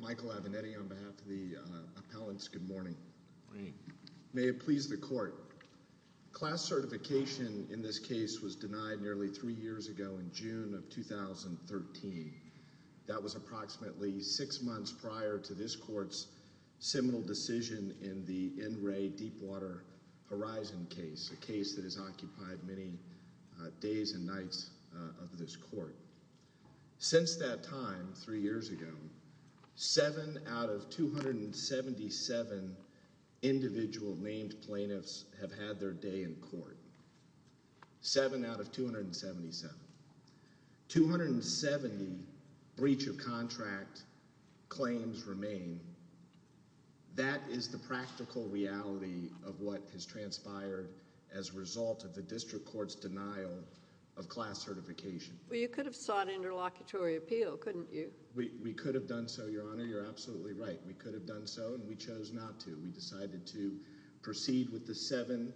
Michael Avenetti on behalf of the appellants, good morning. May it please the court. Class certification in this case was denied nearly three years ago in June of 2013. That was approximately six months prior to this court's seminal decision in the Enray Deepwater Horizon case, a case that has occupied many days and nights of this court. Since that time, three years ago, seven out of 277 individual named plaintiffs have had their day in court. Seven out of 277. 270 breach of contract claims remain. That is the practical reality of what has transpired as a result of the district court's denial of class certification. You could have sought interlocutory appeal, couldn't you? We could have done so, Your Honor. You're absolutely right. We could have done so and we chose not to. We decided to proceed with the seven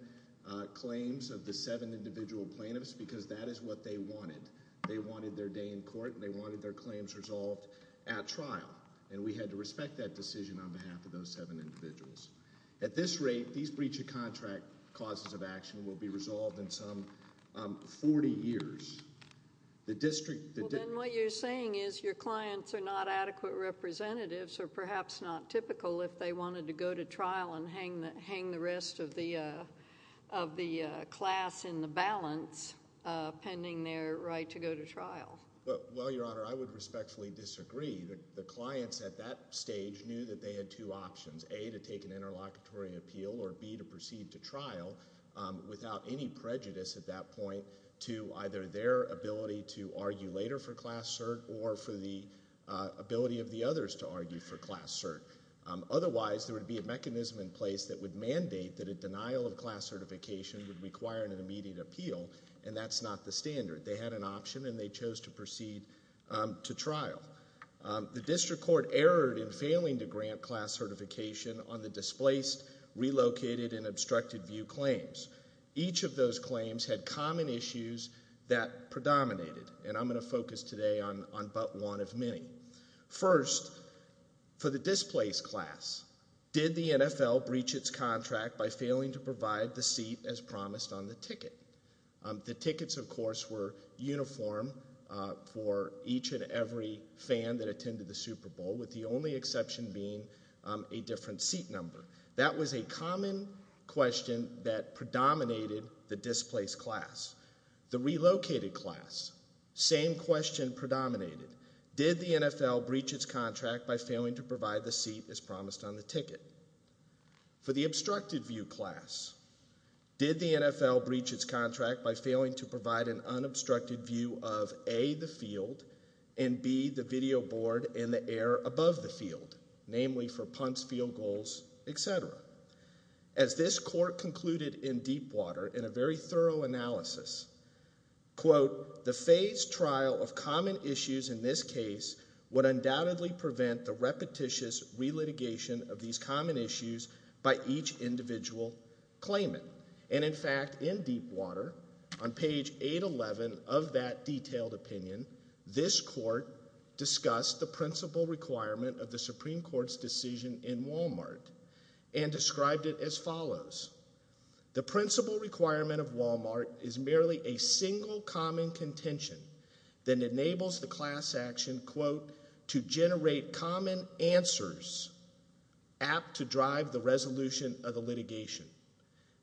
claims of the seven individual plaintiffs because that is what they wanted. They wanted their day in court and they wanted their claims resolved at trial and we had to respect that decision on behalf of those seven individuals. At this rate, these breach of contract causes of action will be resolved in some 40 years. The district... Well, then what you're saying is your clients are not adequate representatives or perhaps not typical if they wanted to go to trial and hang the rest of the class in the balance pending their right to go to trial. Well, Your Honor, I would respectfully disagree. The clients at that stage knew that they had two options, A, to take an interlocutory appeal or B, to proceed to trial without any prejudice at that point to either their ability to argue for class cert. Otherwise, there would be a mechanism in place that would mandate that a denial of class certification would require an immediate appeal and that's not the standard. They had an option and they chose to proceed to trial. The district court erred in failing to grant class certification on the displaced, relocated and obstructed view claims. Each of those claims had common issues that predominated and I'm going to focus today on but one of many. First, for the displaced class, did the NFL breach its contract by failing to provide the seat as promised on the ticket? The tickets, of course, were uniform for each and every fan that attended the Super Bowl with the only exception being a different seat number. That was a common question that predominated the displaced class. The relocated class, same question predominated. Did the NFL breach its contract by failing to provide the seat as promised on the ticket? For the obstructed view class, did the NFL breach its contract by failing to provide an unobstructed view of A, the field and B, the video board in the air above the field, namely for punts, field goals, etc.? As this court concluded in Deepwater in a very thorough analysis, quote, the phased trial of common issues in this case would undoubtedly prevent the repetitious re-litigation of these common issues by each individual claimant. And in fact, in Deepwater, on page 811 of that detailed opinion, this court discussed the principle requirement of the Supreme Court's decision in Walmart and described it as follows. The principle requirement of Walmart is merely a single common contention that enables the class action, quote, to generate common answers apt to drive the resolution of the litigation.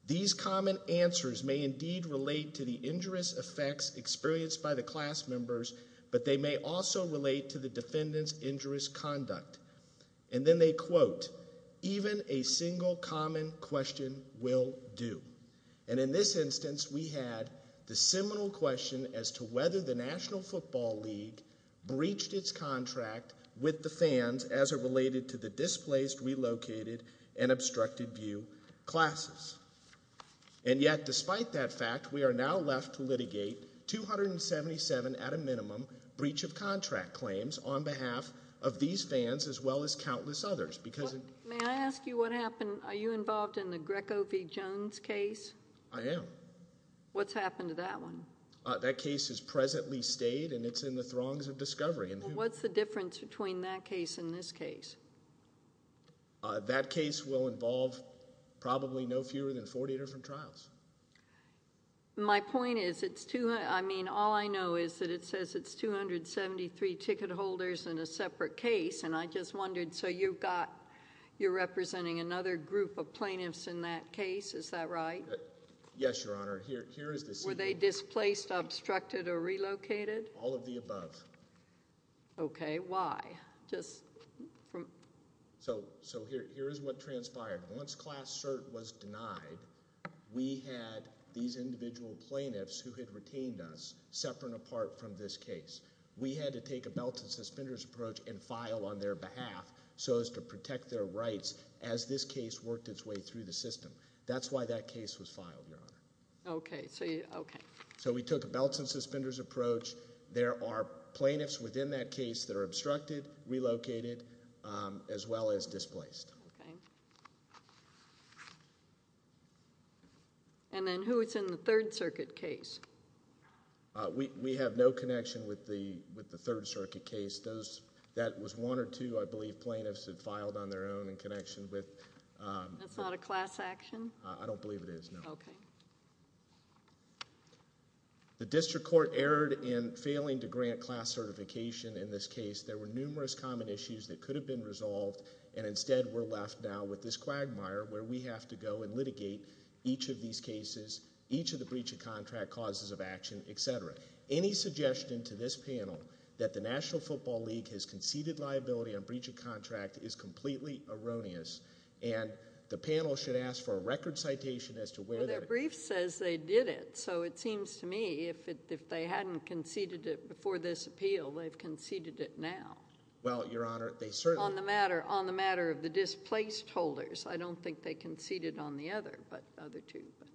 These common answers may indeed relate to the injurious effects experienced by the class members, but they may also relate to the defendant's injurious conduct. And then they quote, even a single common question will do. And in this instance, we had the seminal question as to whether the National Football League breached its contract with the fans as it related to the displaced, relocated, and obstructed view classes. And yet, despite that fact, we are now left to litigate 277 at a minimum breach of contract claims on behalf of these fans as well as countless others, because- May I ask you what happened? Are you involved in the Greco v. Jones case? I am. What's happened to that one? That case has presently stayed, and it's in the throngs of discovery. And what's the difference between that case and this case? That case will involve probably no fewer than 40 different trials. My point is, it's too, I mean, all I know is that it says it's 273 ticket holders in a separate case, and I just wondered, so you've got, you're representing another group of plaintiffs in that case, is that right? Yes, Your Honor. Here, here is the- Were they displaced, obstructed, or relocated? All of the above. Okay. Why? Just, from- So, so here, here is what transpired. Once Class Cert was denied, we had these individual plaintiffs who had retained us separate and apart from this case. We had to take a belt and suspenders approach and file on their behalf so as to protect their rights as this case worked its way through the system. That's why that case was filed, Your Honor. Okay, so you, okay. So we took a belt and suspenders approach. There are plaintiffs within that case that are obstructed, relocated, as well as displaced. Okay. And then who is in the Third Circuit case? We have no connection with the Third Circuit case. That was one or two, I believe, plaintiffs that filed on their own in connection with- That's not a class action? I don't believe it is, no. Okay. The District Court erred in failing to grant Class Certification in this case. There were numerous common issues that could have been resolved and instead we're left now with this quagmire where we have to go and litigate each of these cases, each of the breach of contract causes of action, et cetera. Any suggestion to this panel that the National Football League has conceded liability on breach of contract is completely erroneous and the panel should ask for a record citation as to where that- Well, their brief says they did it, so it seems to me if it, if they hadn't conceded it before this appeal, they've conceded it now. Well, Your Honor, they certainly- On the matter, on the matter of the displaced holders. I don't think they conceded on the other, but the other two, but-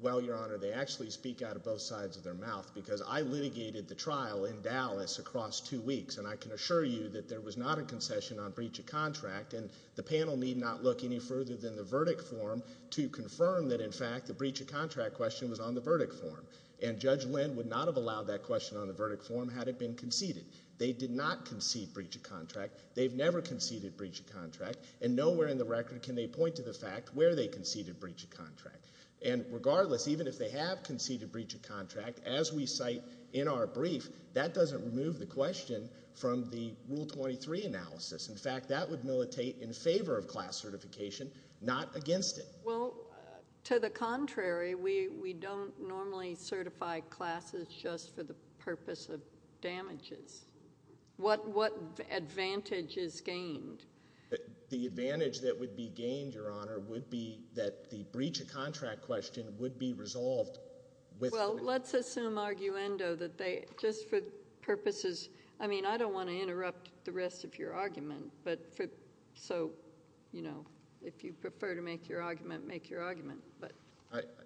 Well, Your Honor, they actually speak out of both sides of their mouth because I litigated the trial in Dallas across two weeks and I can assure you that there was not a concession on breach of contract and the panel need not look any further than the verdict form to confirm that in fact the breach of contract question was on the verdict form. And Judge Lynn would not have allowed that question on the verdict form had it been conceded. They did not concede breach of contract. They've never conceded breach of contract. And nowhere in the record can they point to the fact where they conceded breach of contract. And regardless, even if they have conceded breach of contract, as we cite in our brief, that doesn't remove the question from the Rule 23 analysis. In fact, that would militate in favor of class certification, not against it. Well, to the contrary, we don't normally certify classes just for the purpose of damages. What advantage is gained? The advantage that would be gained, Your Honor, would be that the breach of contract question would be resolved with- Well, let's assume arguendo that they, just for purposes, I mean, I don't want to interrupt the rest of your argument, but so, you know, if you prefer to make your argument, make your argument. But-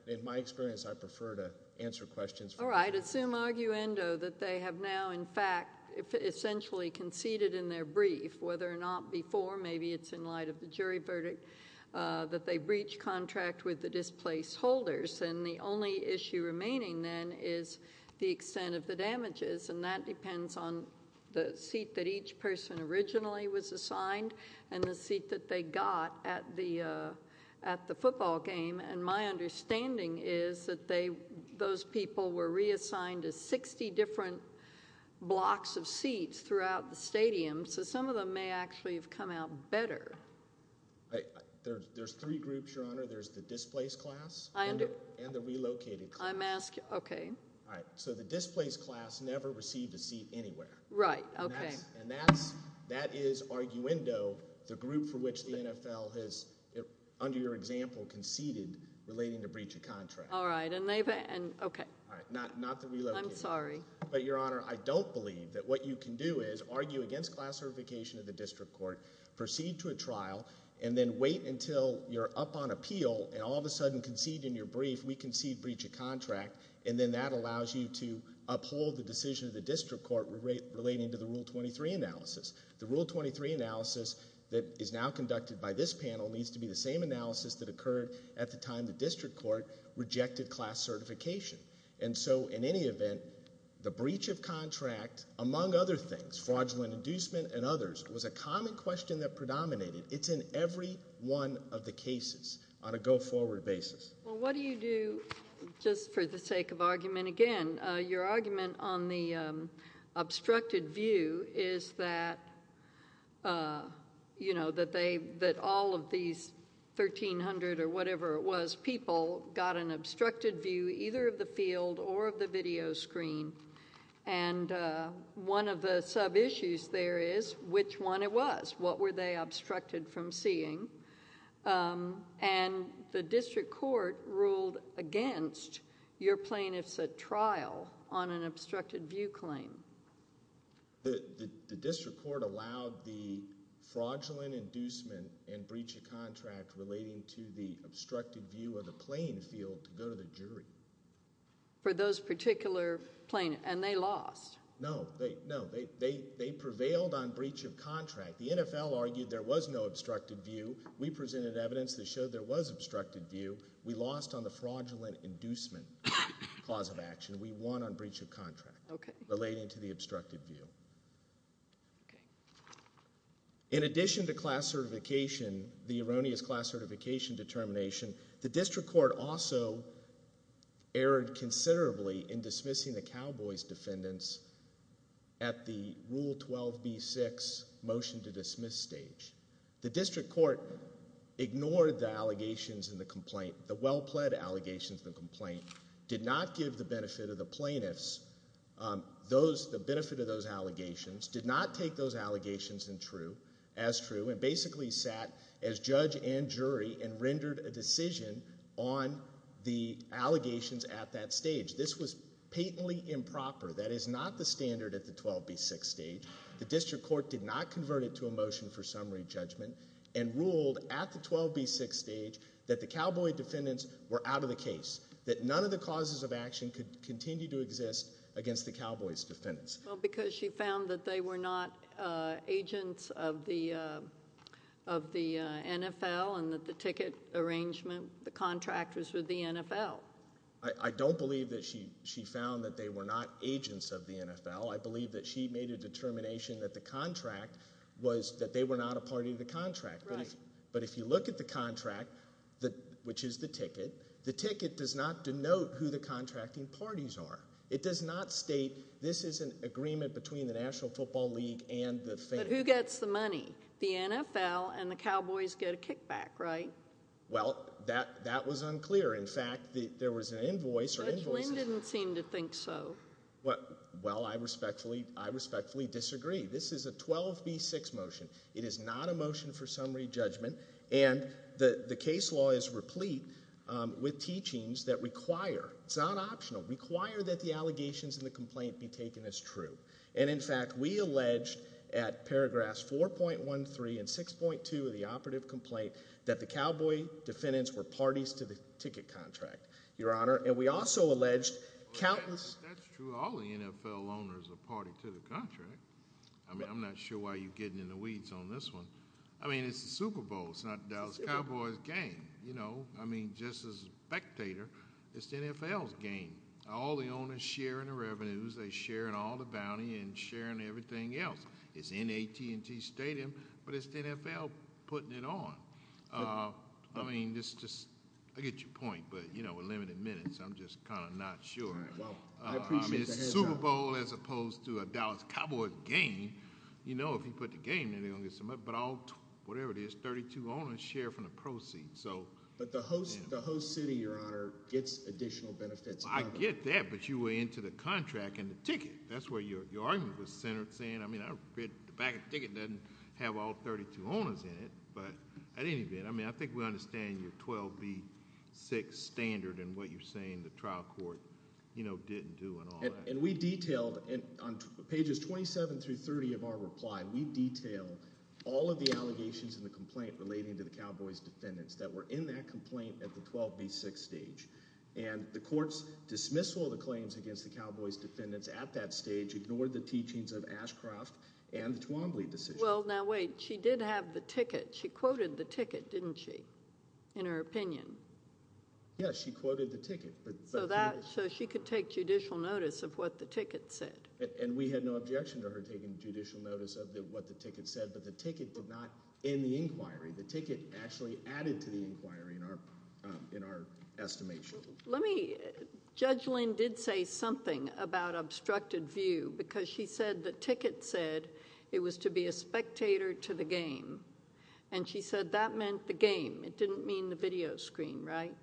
In my experience, I prefer to answer questions from- All right. Assume arguendo that they have now, in fact, essentially conceded in their brief, whether or not before, maybe it's in light of the jury verdict, that they breached contract with the displaced holders. And the only issue remaining then is the extent of the damages, and that depends on the seat that each person originally was assigned, and the seat that they got at the football game. And my understanding is that those people were reassigned to 60 different blocks of seats throughout the stadium, so some of them may actually have come out better. There's three groups, Your Honor. There's the displaced class, and the relocated class. I'm asking- Okay. All right. So the displaced class never received a seat anywhere. Right. Okay. And that is arguendo, the group for which the NFL has, under your example, conceded relating to breach of contract. All right. And they've- Okay. All right. Not the relocated. I'm sorry. But, Your Honor, I don't believe that what you can do is argue against class certification of the district court, proceed to a trial, and then wait until you're up on appeal and all of a sudden concede in your brief, we concede breach of contract, and then that rule 23 analysis. The rule 23 analysis that is now conducted by this panel needs to be the same analysis that occurred at the time the district court rejected class certification. And so, in any event, the breach of contract, among other things, fraudulent inducement and others, was a common question that predominated. It's in every one of the cases on a go-forward basis. Well, what do you do, just for the sake of argument again, your argument on the obstructed view is that, you know, that they... that all of these 1,300 or whatever it was people got an obstructed view, either of the field or of the video screen. And one of the sub-issues there is which one it was. What were they obstructed from seeing? And the district court ruled against your plaintiff's trial on an obstructed view claim. The district court allowed the fraudulent inducement and breach of contract relating to the obstructed view of the playing field to go to the jury. For those particular plaintiffs. And they lost. No. They prevailed on breach of contract. The NFL argued there was no obstructed view. We presented evidence that showed there was obstructed view. We lost on the fraudulent inducement cause of action. We won on breach of contract relating to the obstructed view. In addition to class certification, the erroneous class certification determination, the district court also erred considerably in dismissing the Cowboys defendants at the Rule 12b-6 motion to dismiss stage. The district court ignored the allegations in the complaint, the well-pled allegations in the complaint, did not give the benefit of the plaintiffs... those... the benefit of those allegations, did not take those allegations as true, and basically sat as judge and jury and rendered a decision on the allegations at that stage. This was patently improper. That is not the standard at the 12b-6 stage. The district court did not convert it to a motion for summary judgment and ruled at the 12b-6 stage that the Cowboy defendants were out of the case, that none of the causes of action could continue to exist against the Cowboys defendants. Because she found that they were not agents of the NFL and that the ticket arrangement, the contractors were the NFL. I don't believe that she found that they were not agents of the NFL. I believe that she made a determination that the contract was... that they were not a party to the contract. But if you look at the contract, which is the ticket, the ticket does not denote who the contracting parties are. It does not state this is an agreement between the National Football League and the... But who gets the money? The NFL and the Cowboys get a kickback, right? Well, that was unclear. In fact, there was an invoice... Judge Lynn didn't seem to think so. Well, I respectfully disagree. This is a 12b-6 motion. It is not a motion for summary judgment, and the case law is replete with teachings that require... it's not optional... require that the allegations in the complaint be taken as true. And, in fact, we allege at paragraphs 4.13 and 6.2 of the operative complaint that the Cowboy defendants were parties to the ticket contract, Your Honor, and we also allege... Well, that's true. All the NFL owners are a party to the contract. I mean, I'm not sure why you're getting in the weeds on this one. I mean, it's the Super Bowl. It's not the Dallas Cowboys game, you know. I mean, just as a spectator, it's the NFL's game. All the owners share in the revenues, they share in all the bounty, and share in everything else. It's in the AT&T Stadium, but it's the NFL putting it on. I mean, it's just... I get your point, but, you know, with limited minutes, I'm just kind of not sure. Well, I appreciate the heads up. I mean, it's the Super Bowl as opposed to a Dallas Cowboys game. You know, if you put the game, then they're going to get some money, but all... whatever it is, 32 owners share from the proceeds, so... Yeah. But the host city, Your Honor, gets additional benefits... I get that, but you were into the contract and the ticket. That's where your argument was centered, saying, I mean, the back of the ticket doesn't have all 32 owners in it, but at any event, I mean, I think we understand your 12B-6 standard and what you're saying the trial court, you know, didn't do and all that. And we detailed, on pages 27 through 30 of our reply, we detail all of the allegations and the complaint relating to the Cowboys defendants that were in that complaint at the 12B-6 stage. And the court's dismissal of the claims against the Cowboys defendants at that stage ignored the teachings of Ashcroft and the Twombly decision. Well, now, wait. She did have the ticket. She quoted the ticket, didn't she, in her opinion? Yes, she quoted the ticket, but... So that... so she could take judicial notice of what the ticket said. The ticket did not end the inquiry. The ticket actually added to the inquiry in our estimation. Let me... Judge Lynn did say something about obstructed view, because she said the ticket said it was to be a spectator to the game. And she said that meant the game. It didn't mean the video screen, right?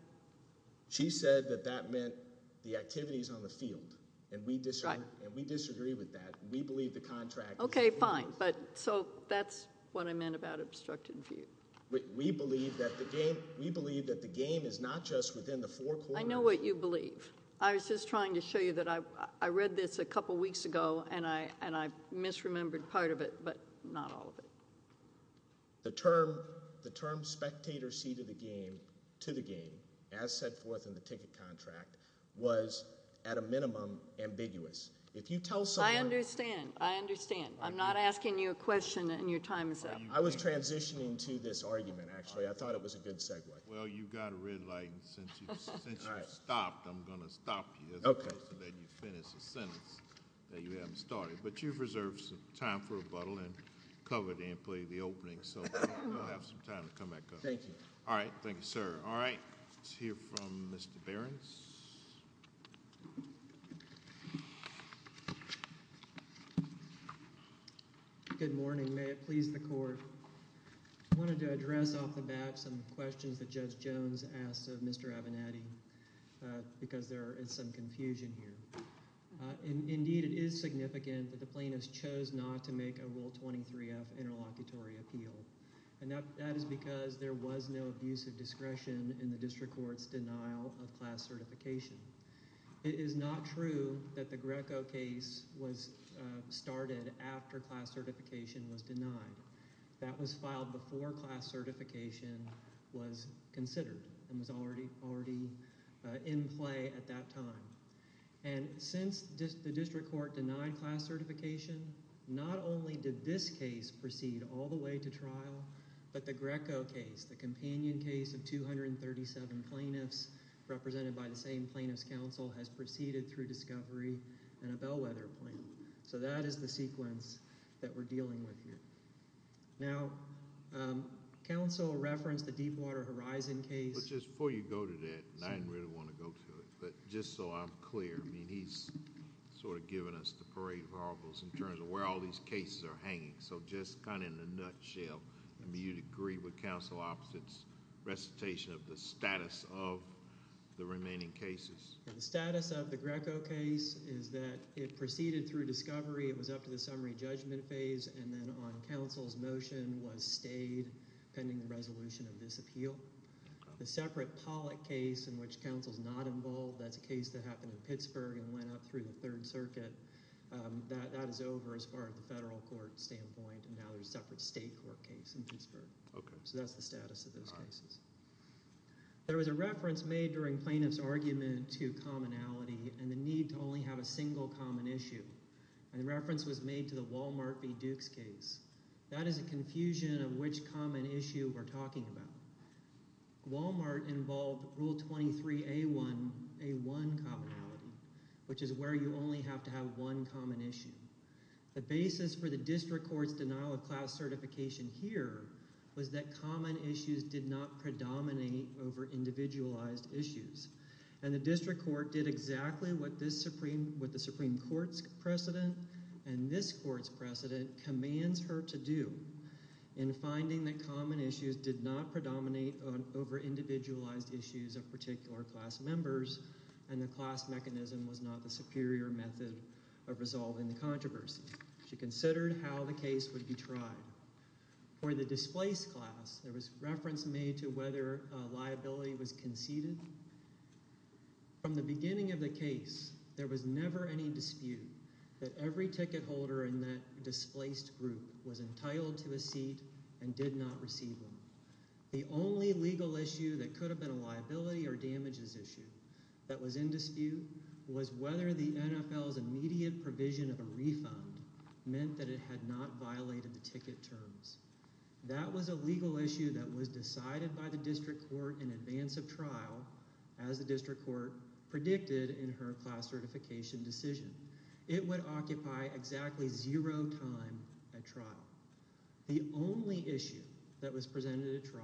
She said that that meant the activities on the field, and we disagree with that. We believe the contract... Okay, fine. So that's what I meant about obstructed view. We believe that the game is not just within the four corners... I know what you believe. I was just trying to show you that I read this a couple weeks ago, and I misremembered part of it, but not all of it. The term spectator to the game, as set forth in the ticket contract, was at a minimum ambiguous. If you tell someone... I understand. I understand. I'm not asking you a question, and your time is up. I was transitioning to this argument, actually. I thought it was a good segue. Well, you've got a red light, and since you've stopped, I'm going to stop you, as opposed to letting you finish a sentence that you haven't started. But you've reserved some time for rebuttal, and covered and played the opening, so you'll have some time to come back up. Thank you. All right. Thank you, sir. All right. Let's hear from Mr. Behrens. Good morning. May it please the Court. I wanted to address off the bat some questions that Judge Jones asked of Mr. Avenatti, because there is some confusion here. Indeed, it is significant that the plaintiffs chose not to make a Rule 23-F interlocutory appeal, and that is because there was no abuse of discretion in the district court's denial of class certification. It is not true that the Greco case was started after class certification was denied. That was filed before class certification was considered, and was already in play at that time. Since the district court denied class certification, not only did this case proceed all the way to trial, but the Greco case, the companion case of 237 plaintiffs, represented by the same plaintiffs' counsel, has proceeded through discovery and a bellwether plan. So that is the sequence that we're dealing with here. Now, counsel referenced the Deepwater Horizon case... But just before you go to that, and I didn't really want to go to it, but just so I'm clear, I mean, he's sort of given us the parade of horribles in terms of where all these cases are hanging. So just kind of in a nutshell, I mean, you'd agree with counsel Opposite's recitation of the status of the remaining cases? The status of the Greco case is that it proceeded through discovery, it was up to the summary judgment phase, and then on counsel's motion was stayed pending the resolution of this appeal. The separate Pollack case, in which counsel's not involved, that's a case that happened in Pittsburgh and went up through the Third Circuit, that is over as far as the federal court standpoint, and now there's a separate state court case in Pittsburgh. So that's the status of those cases. There was a reference made during plaintiff's argument to commonality and the need to only have a single common issue. And the reference was made to the Walmart v. Dukes case. That is a confusion of which common issue we're talking about. Walmart involved Rule 23A1 commonality, which is where you only have to have one common issue. The basis for the district court's denial of class certification here was that common issues did not predominate over individualized issues. And the district court did exactly what the Supreme Court's precedent and this court's precedent commands her to do in finding that common issues did not predominate over individualized issues of particular class members, and the class mechanism was not the superior method of resolving the controversy. She considered how the case would be tried. For the displaced class, there was reference made to whether liability was conceded. From the beginning of the case, there was never any dispute that every ticket holder in that displaced group was entitled to a seat and did not receive one. The only legal issue that could have been a liability or damages issue that was in dispute was whether the NFL's immediate provision of a refund meant that it had not violated the ticket terms. That was a legal issue that was decided by the district court in advance of trial, as the district court predicted in her class certification decision. It would occupy exactly zero time at trial. The only issue that was presented at trial,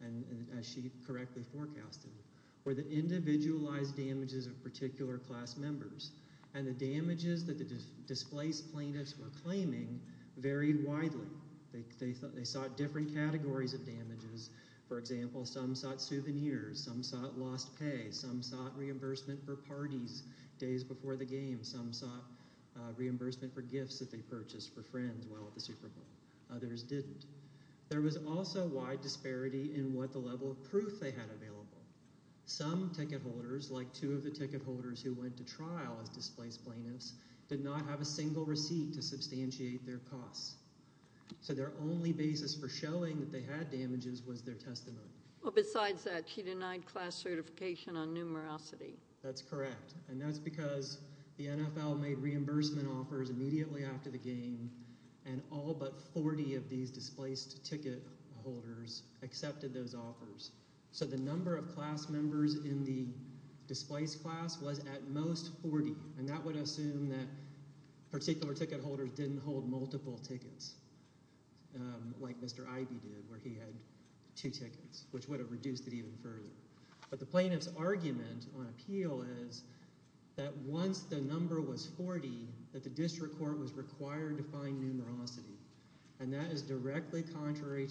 and as she correctly forecasted, were the individualized damages of particular class members, and the damages that the displaced plaintiffs were claiming varied widely. They sought different categories of damages. For example, some sought souvenirs, some sought lost pay, some sought reimbursement for parties days before the game, some sought reimbursement for gifts that they purchased for friends while at the Super Bowl, others didn't. There was also wide disparity in what the level of proof they had available. Some ticket holders, like two of the ticket holders who went to trial as displaced plaintiffs, did not have a single receipt to substantiate their costs. So their only basis for showing that they had damages was their testimony. Well, besides that, she denied class certification on numerosity. That's correct. And that's because the NFL made reimbursement offers immediately after the game, and all but 40 of these displaced ticket holders accepted those offers. So the number of class members in the displaced class was at most 40, and that would assume that particular ticket holders didn't hold multiple tickets, like Mr. Ivey did, where he had two tickets, which would have reduced it even further. But the plaintiff's argument on appeal is that once the number was 40, that the district court was required to find numerosity. And that is directly contrary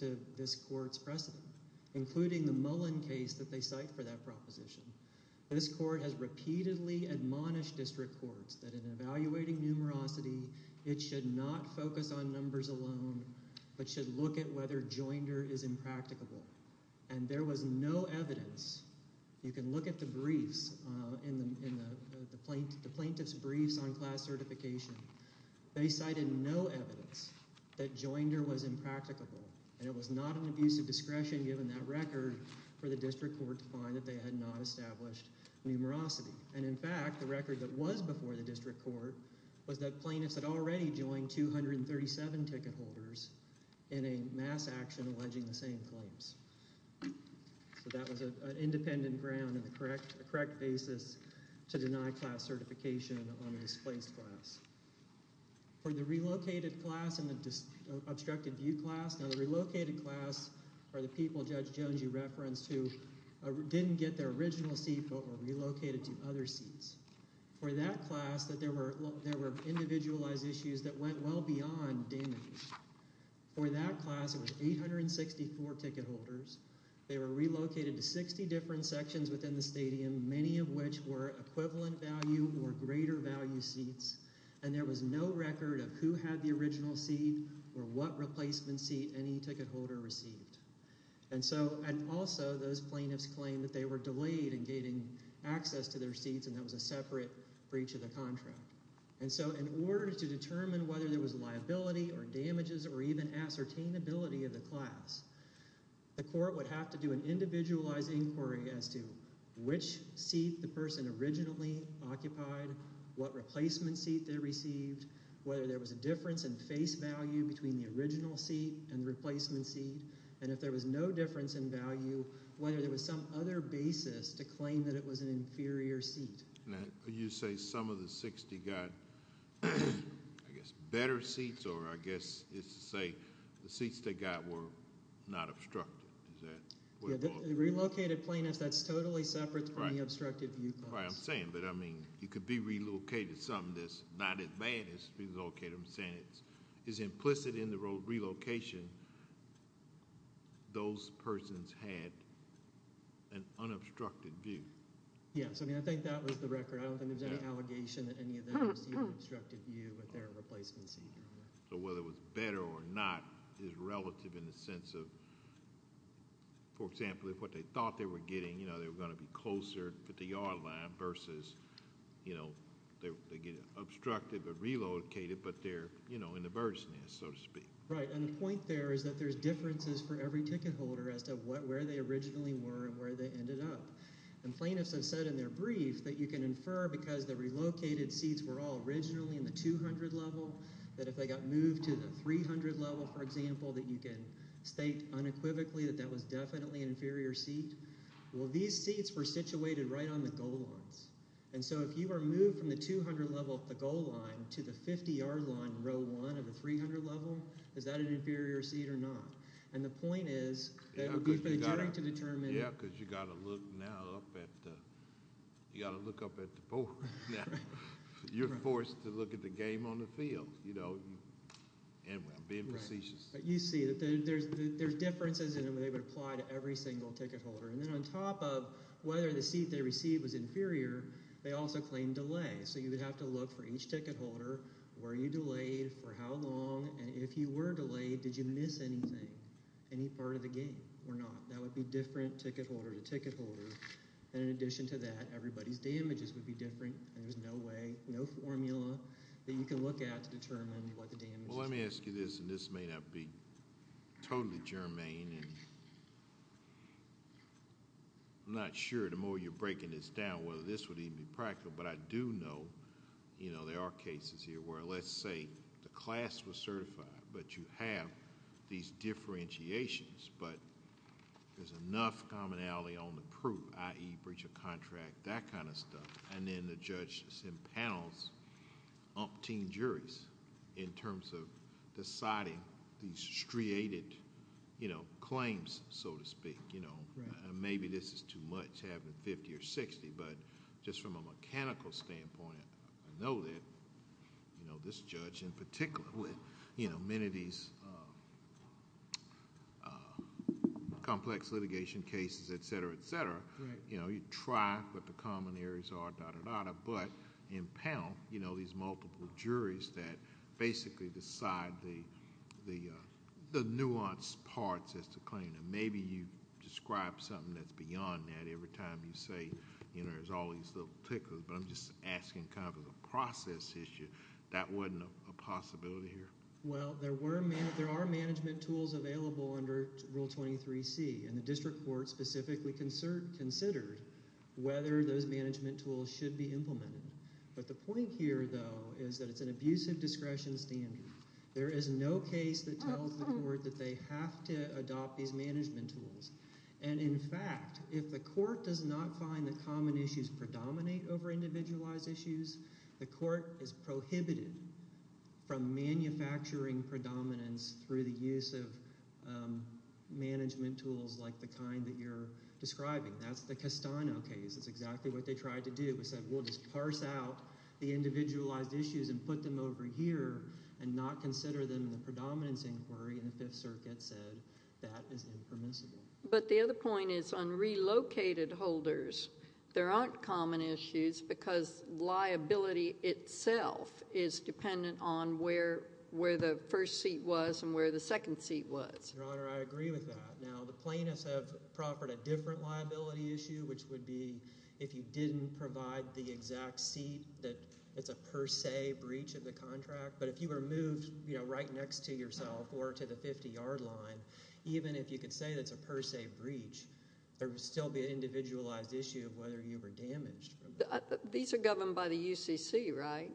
to this court's precedent, including the Mullen case that they cite for that proposition. This court has repeatedly admonished district courts that in evaluating numerosity, it should not focus on numbers alone, but should look at whether joinder is impracticable. And there was no evidence. You can look at the briefs, the plaintiff's briefs on class certification. They cited no evidence that joinder was impracticable, and it was not an abuse of discretion, given that record, for the district court to find that they had not established numerosity. And in fact, the record that was before the district court was that plaintiffs had already joined 237 ticket holders in a mass action alleging the same claims. So that was an independent ground and a correct basis to deny class certification on a displaced class. For the relocated class and the obstructed view class, now the relocated class are the people Judge Jones you referenced who didn't get their original seat but were relocated to other seats. For that class, there were individualized issues that went well beyond damage. For that class, it was 864 ticket holders. They were relocated to 60 different sections within the stadium, many of which were equivalent value or greater value seats, and there was no record of who had the original seat or what replacement seat any ticket holder received. And also, those plaintiffs claimed that they were delayed in gaining access to their seats and that was a separate breach of the contract. And so in order to determine whether there was liability or damages or even ascertainability of the class, the court would have to do an individualized inquiry as to which seat the plaintiff occupied, what replacement seat they received, whether there was a difference in face value between the original seat and the replacement seat, and if there was no difference in value, whether there was some other basis to claim that it was an inferior seat. Now, you say some of the 60 got, I guess, better seats or I guess it's to say the seats they got were not obstructed, is that what you're talking about? Relocated plaintiffs, that's totally separate from the obstructed view class. That's not quite what I'm saying, but I mean, it could be relocated, something that's not as bad as relocated, I'm saying it's implicit in the relocation, those persons had an unobstructed view. Yes. I mean, I think that was the record. I don't think there's any allegation that any of them received an obstructed view with their replacement seat. So whether it was better or not is relative in the sense of, for example, if what they thought they were getting, you know, they were going to be closer to the yard line versus, you know, they get obstructed or relocated, but they're, you know, in the bird's nest, so to speak. Right. And the point there is that there's differences for every ticket holder as to where they originally were and where they ended up. And plaintiffs have said in their brief that you can infer because the relocated seats were all originally in the 200 level, that if they got moved to the 300 level, for example, that you can state unequivocally that that was definitely an inferior seat. Well, these seats were situated right on the goal lines. And so if you were moved from the 200 level, the goal line, to the 50 yard line, row one of the 300 level, is that an inferior seat or not? And the point is that it would be for the jury to determine. Yeah, because you got to look now up at the, you got to look up at the board. Now, you're forced to look at the game on the field, you know, and being prestigious. But you see that there's, there's differences and they would apply to every single ticket holder. And then on top of whether the seat they received was inferior, they also claim delay. So you would have to look for each ticket holder, were you delayed, for how long, and if you were delayed, did you miss anything? Any part of the game or not? That would be different ticket holder to ticket holder. And in addition to that, everybody's damages would be different and there's no way, no formula that you can look at to determine what the damage is. Well, let me ask you this, and this may not be totally germane, and I'm not sure the more you're breaking this down whether this would even be practical, but I do know, you know, there are cases here where let's say the class was certified, but you have these differentiations, but there's enough commonality on the proof, i.e. breach of contract, that kind of stuff. And then the judge impanels umpteen juries in terms of deciding these striated claims, so to speak. Maybe this is too much to have it 50 or 60, but just from a mechanical standpoint, I know that this judge in particular with many of these complex litigation cases, etc., etc., you know, you try what the common areas are, but impound, you know, these multiple juries that basically decide the nuanced parts as to claim them. Maybe you describe something that's beyond that every time you say, you know, there's all these little tickers, but I'm just asking kind of as a process issue. That wasn't a possibility here? Well, there were... there are management tools available under Rule 23C, and the district court specifically considered whether those management tools should be implemented. But the point here, though, is that it's an abusive discretion standard. There is no case that tells the court that they have to adopt these management tools. And in fact, if the court does not find the common issues predominate over individualized issues, the court is prohibited from manufacturing predominance through the use of management tools like the kind that you're describing. That's the Castano case. That's exactly what they tried to do. They said, we'll just parse out the individualized issues and put them over here and not consider them in the predominance inquiry, and the Fifth Circuit said that is impermissible. But the other point is on relocated holders, there aren't common issues because liability itself is dependent on where the first seat was and where the second seat was. Your Honor, I agree with that. Now, the plaintiffs have proffered a different liability issue, which would be if you didn't provide the exact seat, that it's a per se breach of the contract. But if you were moved right next to yourself or to the 50-yard line, even if you could say that it's a per se breach, there would still be an individualized issue of whether you were damaged. These are governed by the UCC, right?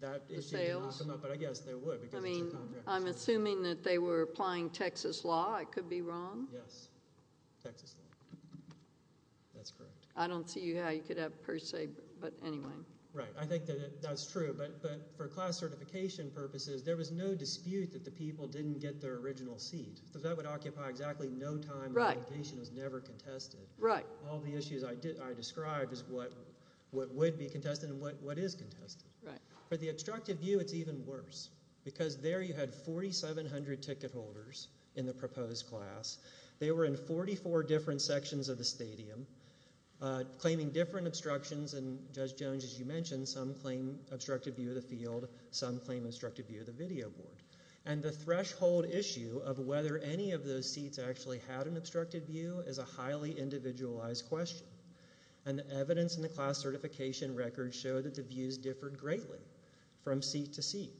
That issue didn't come up, but I guess they would because it's a contract issue. I'm assuming that they were applying Texas law. I could be wrong? Yes. Texas law. That's correct. I don't see how you could have per se, but anyway. Right. I think that that's true, but for class certification purposes, there was no dispute that the people didn't get their original seat because that would occupy exactly no time. Right. The application was never contested. Right. All the issues I described is what would be contested and what is contested. Right. For the obstructive view, it's even worse because there you had 4,700 ticket holders in the proposed class. They were in 44 different sections of the stadium claiming different obstructions and Judge Jones, as you mentioned, some claim obstructed view of the field, some claim obstructed view of the video board. And the threshold issue of whether any of those seats actually had an obstructed view is a highly individualized question. And the evidence in the class certification records show that the views differed greatly from seat to seat.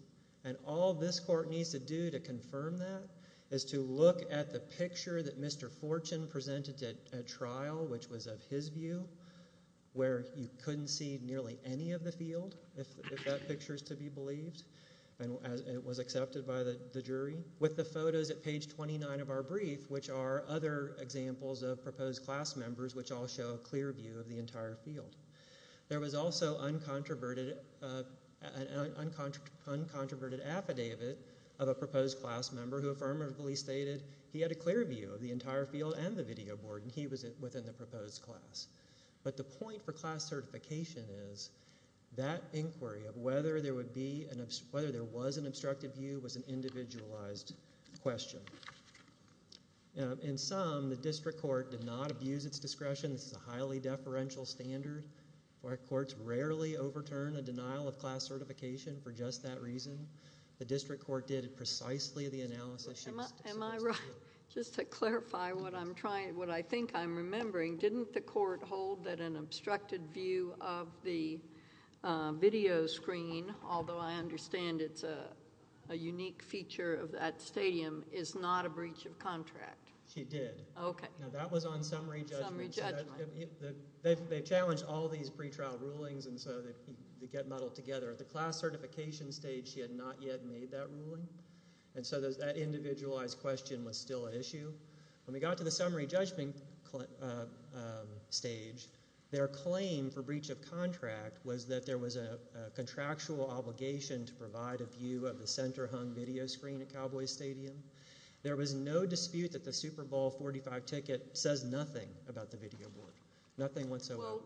And all this court needs to do to confirm that is to look at the picture that Mr. Fortune presented at trial, which was of his view, where you couldn't see nearly any of the field if that picture is to be believed and it was accepted by the jury. With the photos at page 29 of our brief, which are other examples of proposed class members, which all show a clear view of the entire field. There was also an uncontroverted affidavit of a proposed class member who affirmatively stated he had a clear view of the entire field and the video board and he was within the proposed class. But the point for class certification is that inquiry of whether there was an obstructed view was an individualized question. In sum, the district court did not abuse its discretion. This is a highly deferential standard. Our courts rarely overturn a denial of class certification for just that reason. The district court did precisely the analysis. Am I right? Just to clarify what I'm trying, what I think I'm remembering, didn't the court hold that an obstructed view of the video screen, although I understand it's a unique feature of that video screen, was not a breach of contract? She did. Okay. Now that was on summary judgment. Summary judgment. They challenged all these pretrial rulings and so they get muddled together. At the class certification stage, she had not yet made that ruling. And so that individualized question was still an issue. When we got to the summary judgment stage, their claim for breach of contract was that there was a contractual obligation to provide a view of the center hung video screen at There was no dispute that the Super Bowl 45 ticket says nothing about the video board. Nothing whatsoever. Well,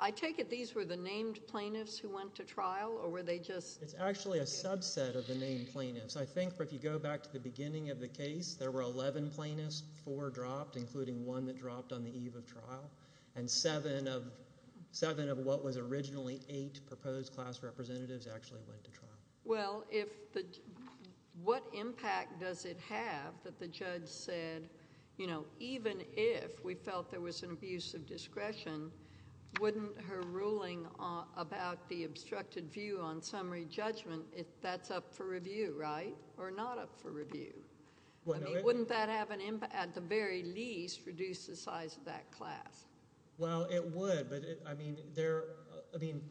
I take it these were the named plaintiffs who went to trial or were they just? It's actually a subset of the named plaintiffs. I think if you go back to the beginning of the case, there were 11 plaintiffs, four dropped, including one that dropped on the eve of trial. And seven of what was originally eight proposed class representatives actually went to trial. Well, if the, what impact does it have that the judge said, you know, even if we felt there was an abuse of discretion, wouldn't her ruling about the obstructed view on summary judgment, if that's up for review, right? Or not up for review? I mean, wouldn't that have an impact, at the very least, reduce the size of that class? Well, it would, but I mean, there, I mean,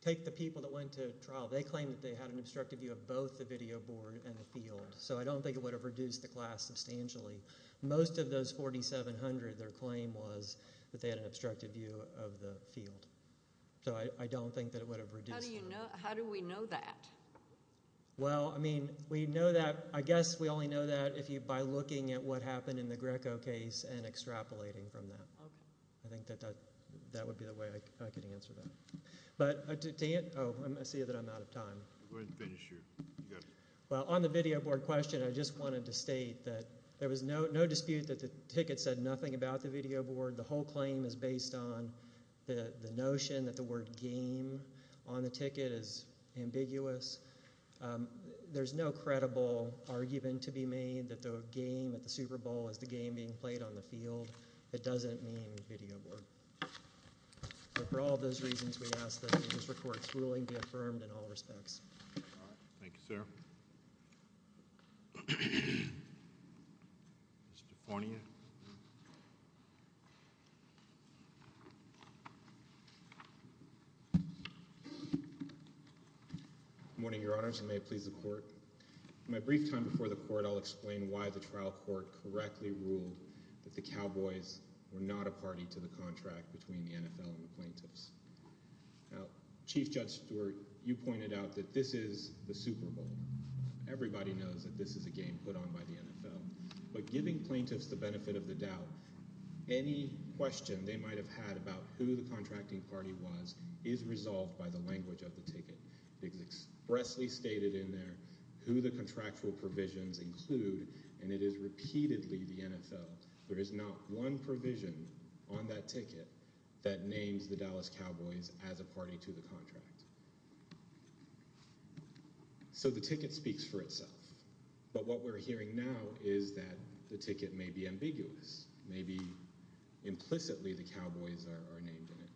take the people that went to trial. They claimed that they had an obstructed view of both the video board and the field. So I don't think it would have reduced the class substantially. Most of those 4,700, their claim was that they had an obstructed view of the field. So I don't think that it would have reduced the class. How do we know that? Well, I mean, we know that, I guess we only know that if you, by looking at what happened in the Greco case and extrapolating from that. Okay. I think that that would be the way I could answer that. But to answer, oh, I see that I'm out of time. Go ahead and finish your, you got it. Well, on the video board question, I just wanted to state that there was no dispute that the ticket said nothing about the video board. The whole claim is based on the notion that the word game on the ticket is ambiguous. There's no credible argument to be made that the game at the Super Bowl is the game being played on the field. It doesn't mean video board. But for all those reasons, we ask that the district court's ruling be affirmed in all respects. All right. Thank you, sir. Mr. Pornia. Good morning, Your Honors, and may it please the Court. In my brief time before the Court, I'll explain why the trial court correctly ruled that the game was a contract between the NFL and the plaintiffs. Now, Chief Judge Stewart, you pointed out that this is the Super Bowl. Everybody knows that this is a game put on by the NFL. But giving plaintiffs the benefit of the doubt, any question they might have had about who the contracting party was is resolved by the language of the ticket. It is expressly stated in there who the contractual provisions include, and it is repeatedly the NFL. There is not one provision on that ticket that names the Dallas Cowboys as a party to the contract. So the ticket speaks for itself. But what we're hearing now is that the ticket may be ambiguous. Maybe implicitly the Cowboys are named in it.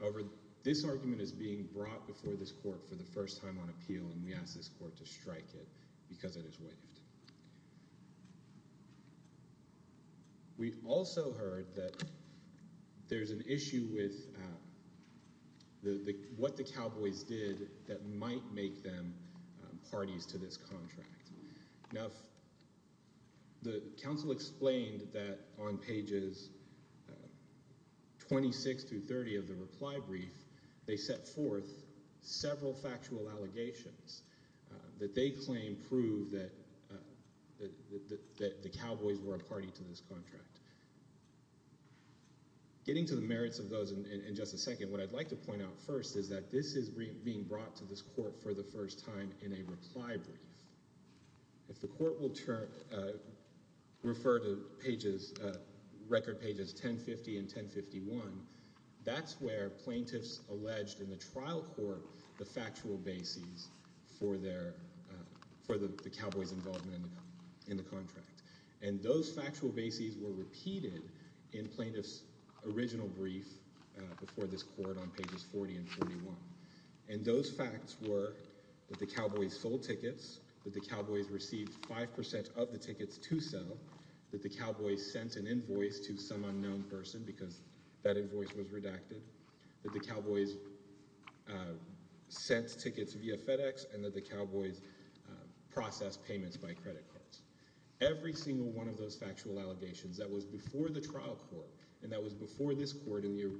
However, this argument is being brought before this Court for the first time on appeal, and we ask this Court to strike it because it is waived. We've also heard that there's an issue with what the Cowboys did that might make them parties to this contract. Now, the counsel explained that on pages 26 through 30 of the reply brief, they set forth several factual allegations that they claim prove that the Cowboys were a party to this contract. Getting to the merits of those in just a second, what I'd like to point out first is that this is being brought to this Court for the first time in a reply brief. If the Court will refer to record pages 1050 and 1051, that's where plaintiffs alleged in the trial court the factual bases for the Cowboys' involvement in the contract. And those factual bases were repeated in plaintiffs' original brief before this Court on pages 40 and 41. And those facts were that the Cowboys sold tickets, that the Cowboys received 5% of the tickets to sell, that the Cowboys sent an invoice to some unknown person because that person sent tickets via FedEx, and that the Cowboys processed payments by credit cards. Every single one of those factual allegations that was before the trial court and that was before this Court in the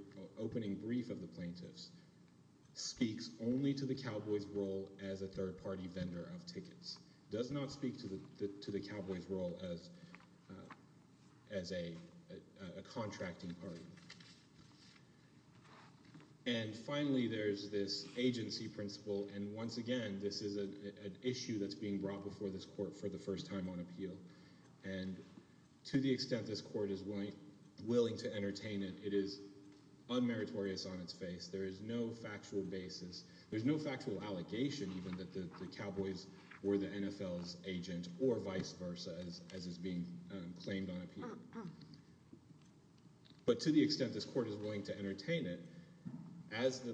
opening brief of the plaintiffs speaks only to the Cowboys' role as a third-party vendor of tickets. It does not speak to the Cowboys' role as a contracting party. And finally, there's this agency principle. And once again, this is an issue that's being brought before this Court for the first time on appeal. And to the extent this Court is willing to entertain it, it is unmeritorious on its face. There is no factual basis. There's no factual allegation even that the Cowboys were the NFL's agent or vice versa as is being claimed on appeal. But to the extent this Court is willing to entertain it, as the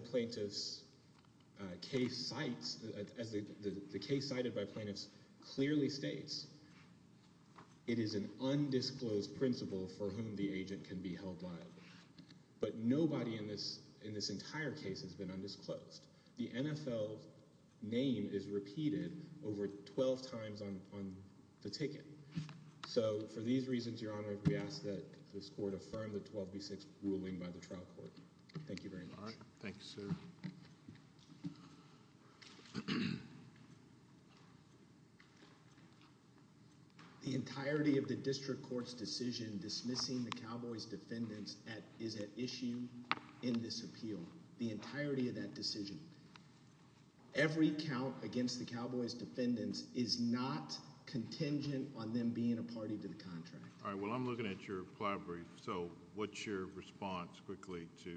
case cited by plaintiffs clearly states, it is an undisclosed principle for whom the agent can be held liable. But nobody in this entire case has been undisclosed. The NFL name is repeated over 12 times on the ticket. So, for these reasons, Your Honor, we ask that this Court affirm the 12 v. 6 ruling by the trial court. Thank you very much. Thank you, sir. The entirety of the district court's decision dismissing the Cowboys' defendants is at issue in this appeal. The entirety of that decision. Every count against the Cowboys' defendants is not contingent on them being a party to the contract. All right. Well, I'm looking at your reply brief. So, what's your response quickly to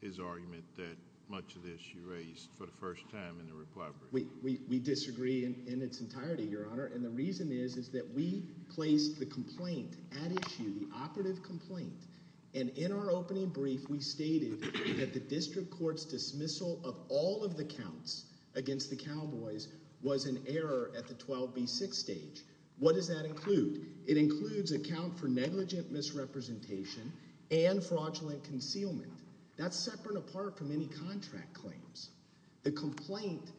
his argument that much of this you raised for the first time in the reply brief? We disagree in its entirety, Your Honor. And the reason is that we placed the complaint at issue, the operative complaint. And in our opening brief, we stated that the district court's dismissal of all of the counts against the Cowboys was an error at the 12 v. 6 stage. What does that include? It includes a count for negligent misrepresentation and fraudulent concealment. That's separate apart from any contract claims. The complaint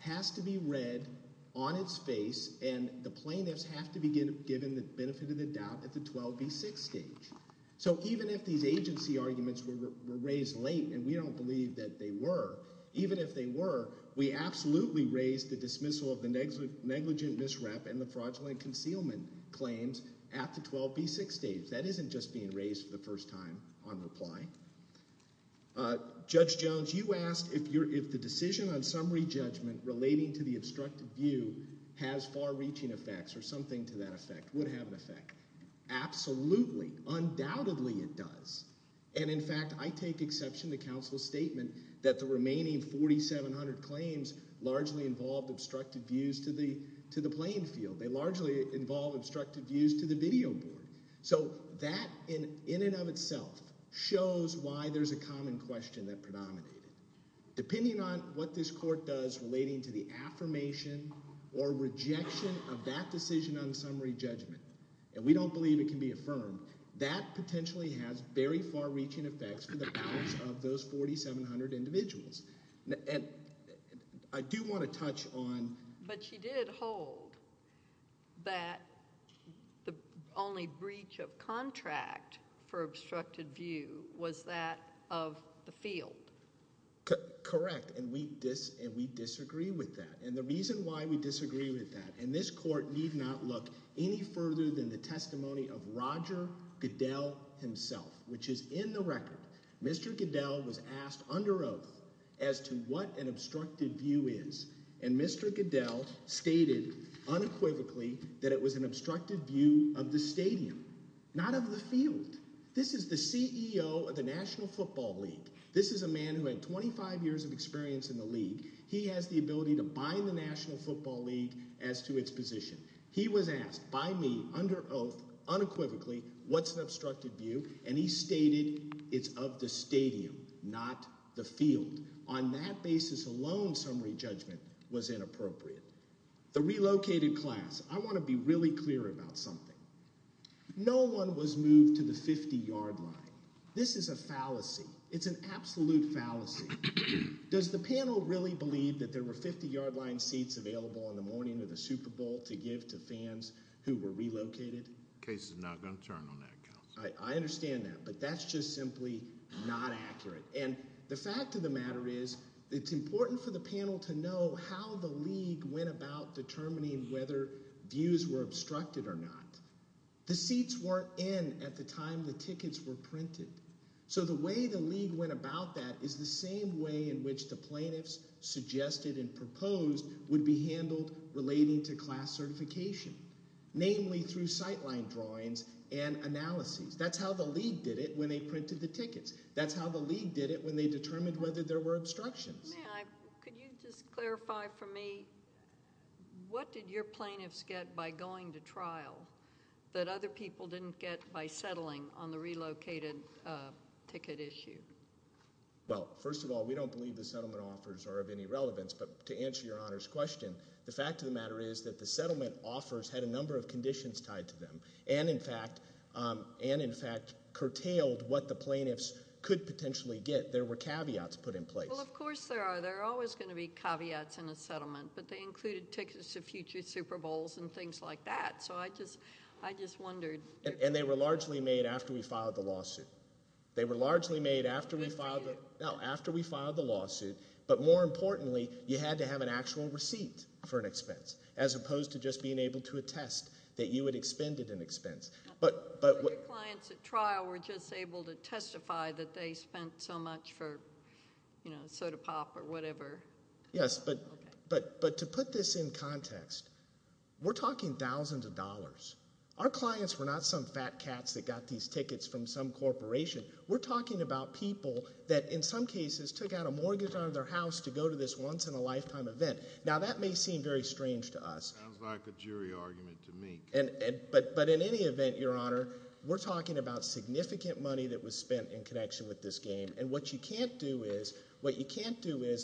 has to be read on its face and the plaintiffs have to be given the benefit of the doubt at the 12 v. 6 stage. So even if these agency arguments were raised late and we don't believe that they were, even if they were, we absolutely raised the dismissal of the negligent misrep and the fraudulent concealment claims at the 12 v. 6 stage. That isn't just being raised for the first time on reply. Judge Jones, you asked if the decision on summary judgment relating to the obstructive view has far-reaching effects or something to that effect, would have an effect. Absolutely, undoubtedly it does. And in fact, I take exception to counsel's statement that the remaining 4,700 claims largely involved obstructive views to the playing field. They largely involved obstructive views to the video board. So that in and of itself shows why there's a common question that predominated. Depending on what this court does relating to the affirmation or rejection of that decision on summary judgment, and we don't believe it can be affirmed, that potentially has very far-reaching effects to the balance of those 4,700 individuals. And I do want to touch on... But she did hold that the only breach of contract for obstructive view was that of the field. Correct, and we disagree with that. And the reason why we disagree with that, and this court need not look any further than the testimony of Roger Goodell himself, which is in the record. Mr. Goodell was asked under oath as to what an obstructive view is. And Mr. Goodell stated unequivocally that it was an obstructive view of the stadium, not of the field. This is the CEO of the National Football League. This is a man who had 25 years of experience in the league. He has the ability to bind the National Football League as to its position. He was asked by me, under oath, unequivocally, what's an obstructive view? And he stated it's of the stadium, not the field. On that basis alone, summary judgment was inappropriate. The relocated class. I want to be really clear about something. No one was moved to the 50-yard line. This is a fallacy. It's an absolute fallacy. Does the panel really believe that there were 50-yard line seats available in the morning of the Super Bowl to give to fans who were relocated? The case is not going to turn on that count. I understand that. But that's just simply not accurate. And the fact of the matter is it's important for the panel to know how the league went about determining whether views were obstructed or not. The seats weren't in at the time the tickets were printed. So the way the league went about that is the same way in which the plaintiffs suggested and proposed would be handled relating to class certification, namely through sightline drawings and analyses. That's how the league did it when they printed the tickets. That's how the league did it when they determined whether there were obstructions. May I? Could you just clarify for me what did your plaintiffs get by going to trial that other people didn't get by settling on the relocated ticket issue? Well, first of all, we don't believe the settlement offers are of any relevance. But to answer Your Honor's question, the fact of the matter is that the settlement offers had a number of conditions tied to them and, in fact, curtailed what the plaintiffs could potentially get. There were caveats put in place. Well, of course there are. There are always going to be caveats in a settlement. But they included tickets to future Super Bowls and things like that. So I just wondered. And they were largely made after we filed the lawsuit. They were largely made after we filed the lawsuit. But more importantly, you had to have an actual receipt for an expense as opposed to just being able to attest that you had expended an expense. But your clients at trial were just able to testify that they spent so much for soda pop or whatever. Yes. But to put this in context, we're talking thousands of dollars. Our clients were not some fat cats that got these tickets from some corporation. We're talking about people that, in some cases, took out a mortgage out of their house to go to this once-in-a-lifetime event. Now, that may seem very strange to us. Sounds like a jury argument to me. But in any event, Your Honor, we're talking about significant money that was spent in connection with this game. And what you can't do is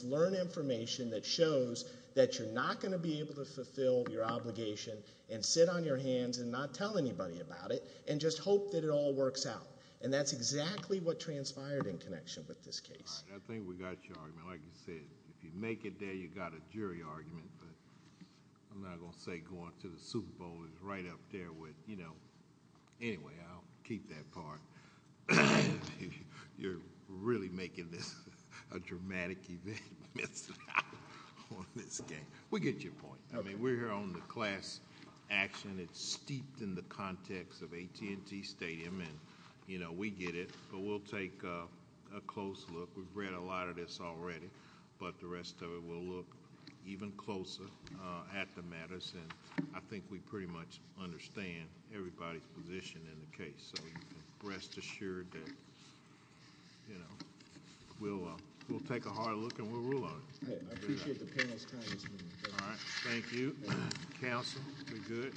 learn information that shows that you're not going to be able to fulfill your obligation and sit on your hands and not tell anybody about it and just hope that it all works out. And that's exactly what transpired in connection with this case. All right. I think we got your argument. Like you said, if you make it there, you've got a jury argument. But I'm not going to say going to the Super Bowl is right up there with, you know. Anyway, I'll keep that part. You're really making this a dramatic event on this case. We get your point. I mean, we're here on the class action. It's steeped in the context of AT&T Stadium. And, you know, we get it. But we'll take a close look. We've read a lot of this already. But the rest of it, we'll look even closer at the matters. And I think we pretty much understand everybody's position in the case. So rest assured that, you know, we'll take a hard look and we'll rule on it. I appreciate the panel's kindness. All right. Counsel, we're good. Thank you.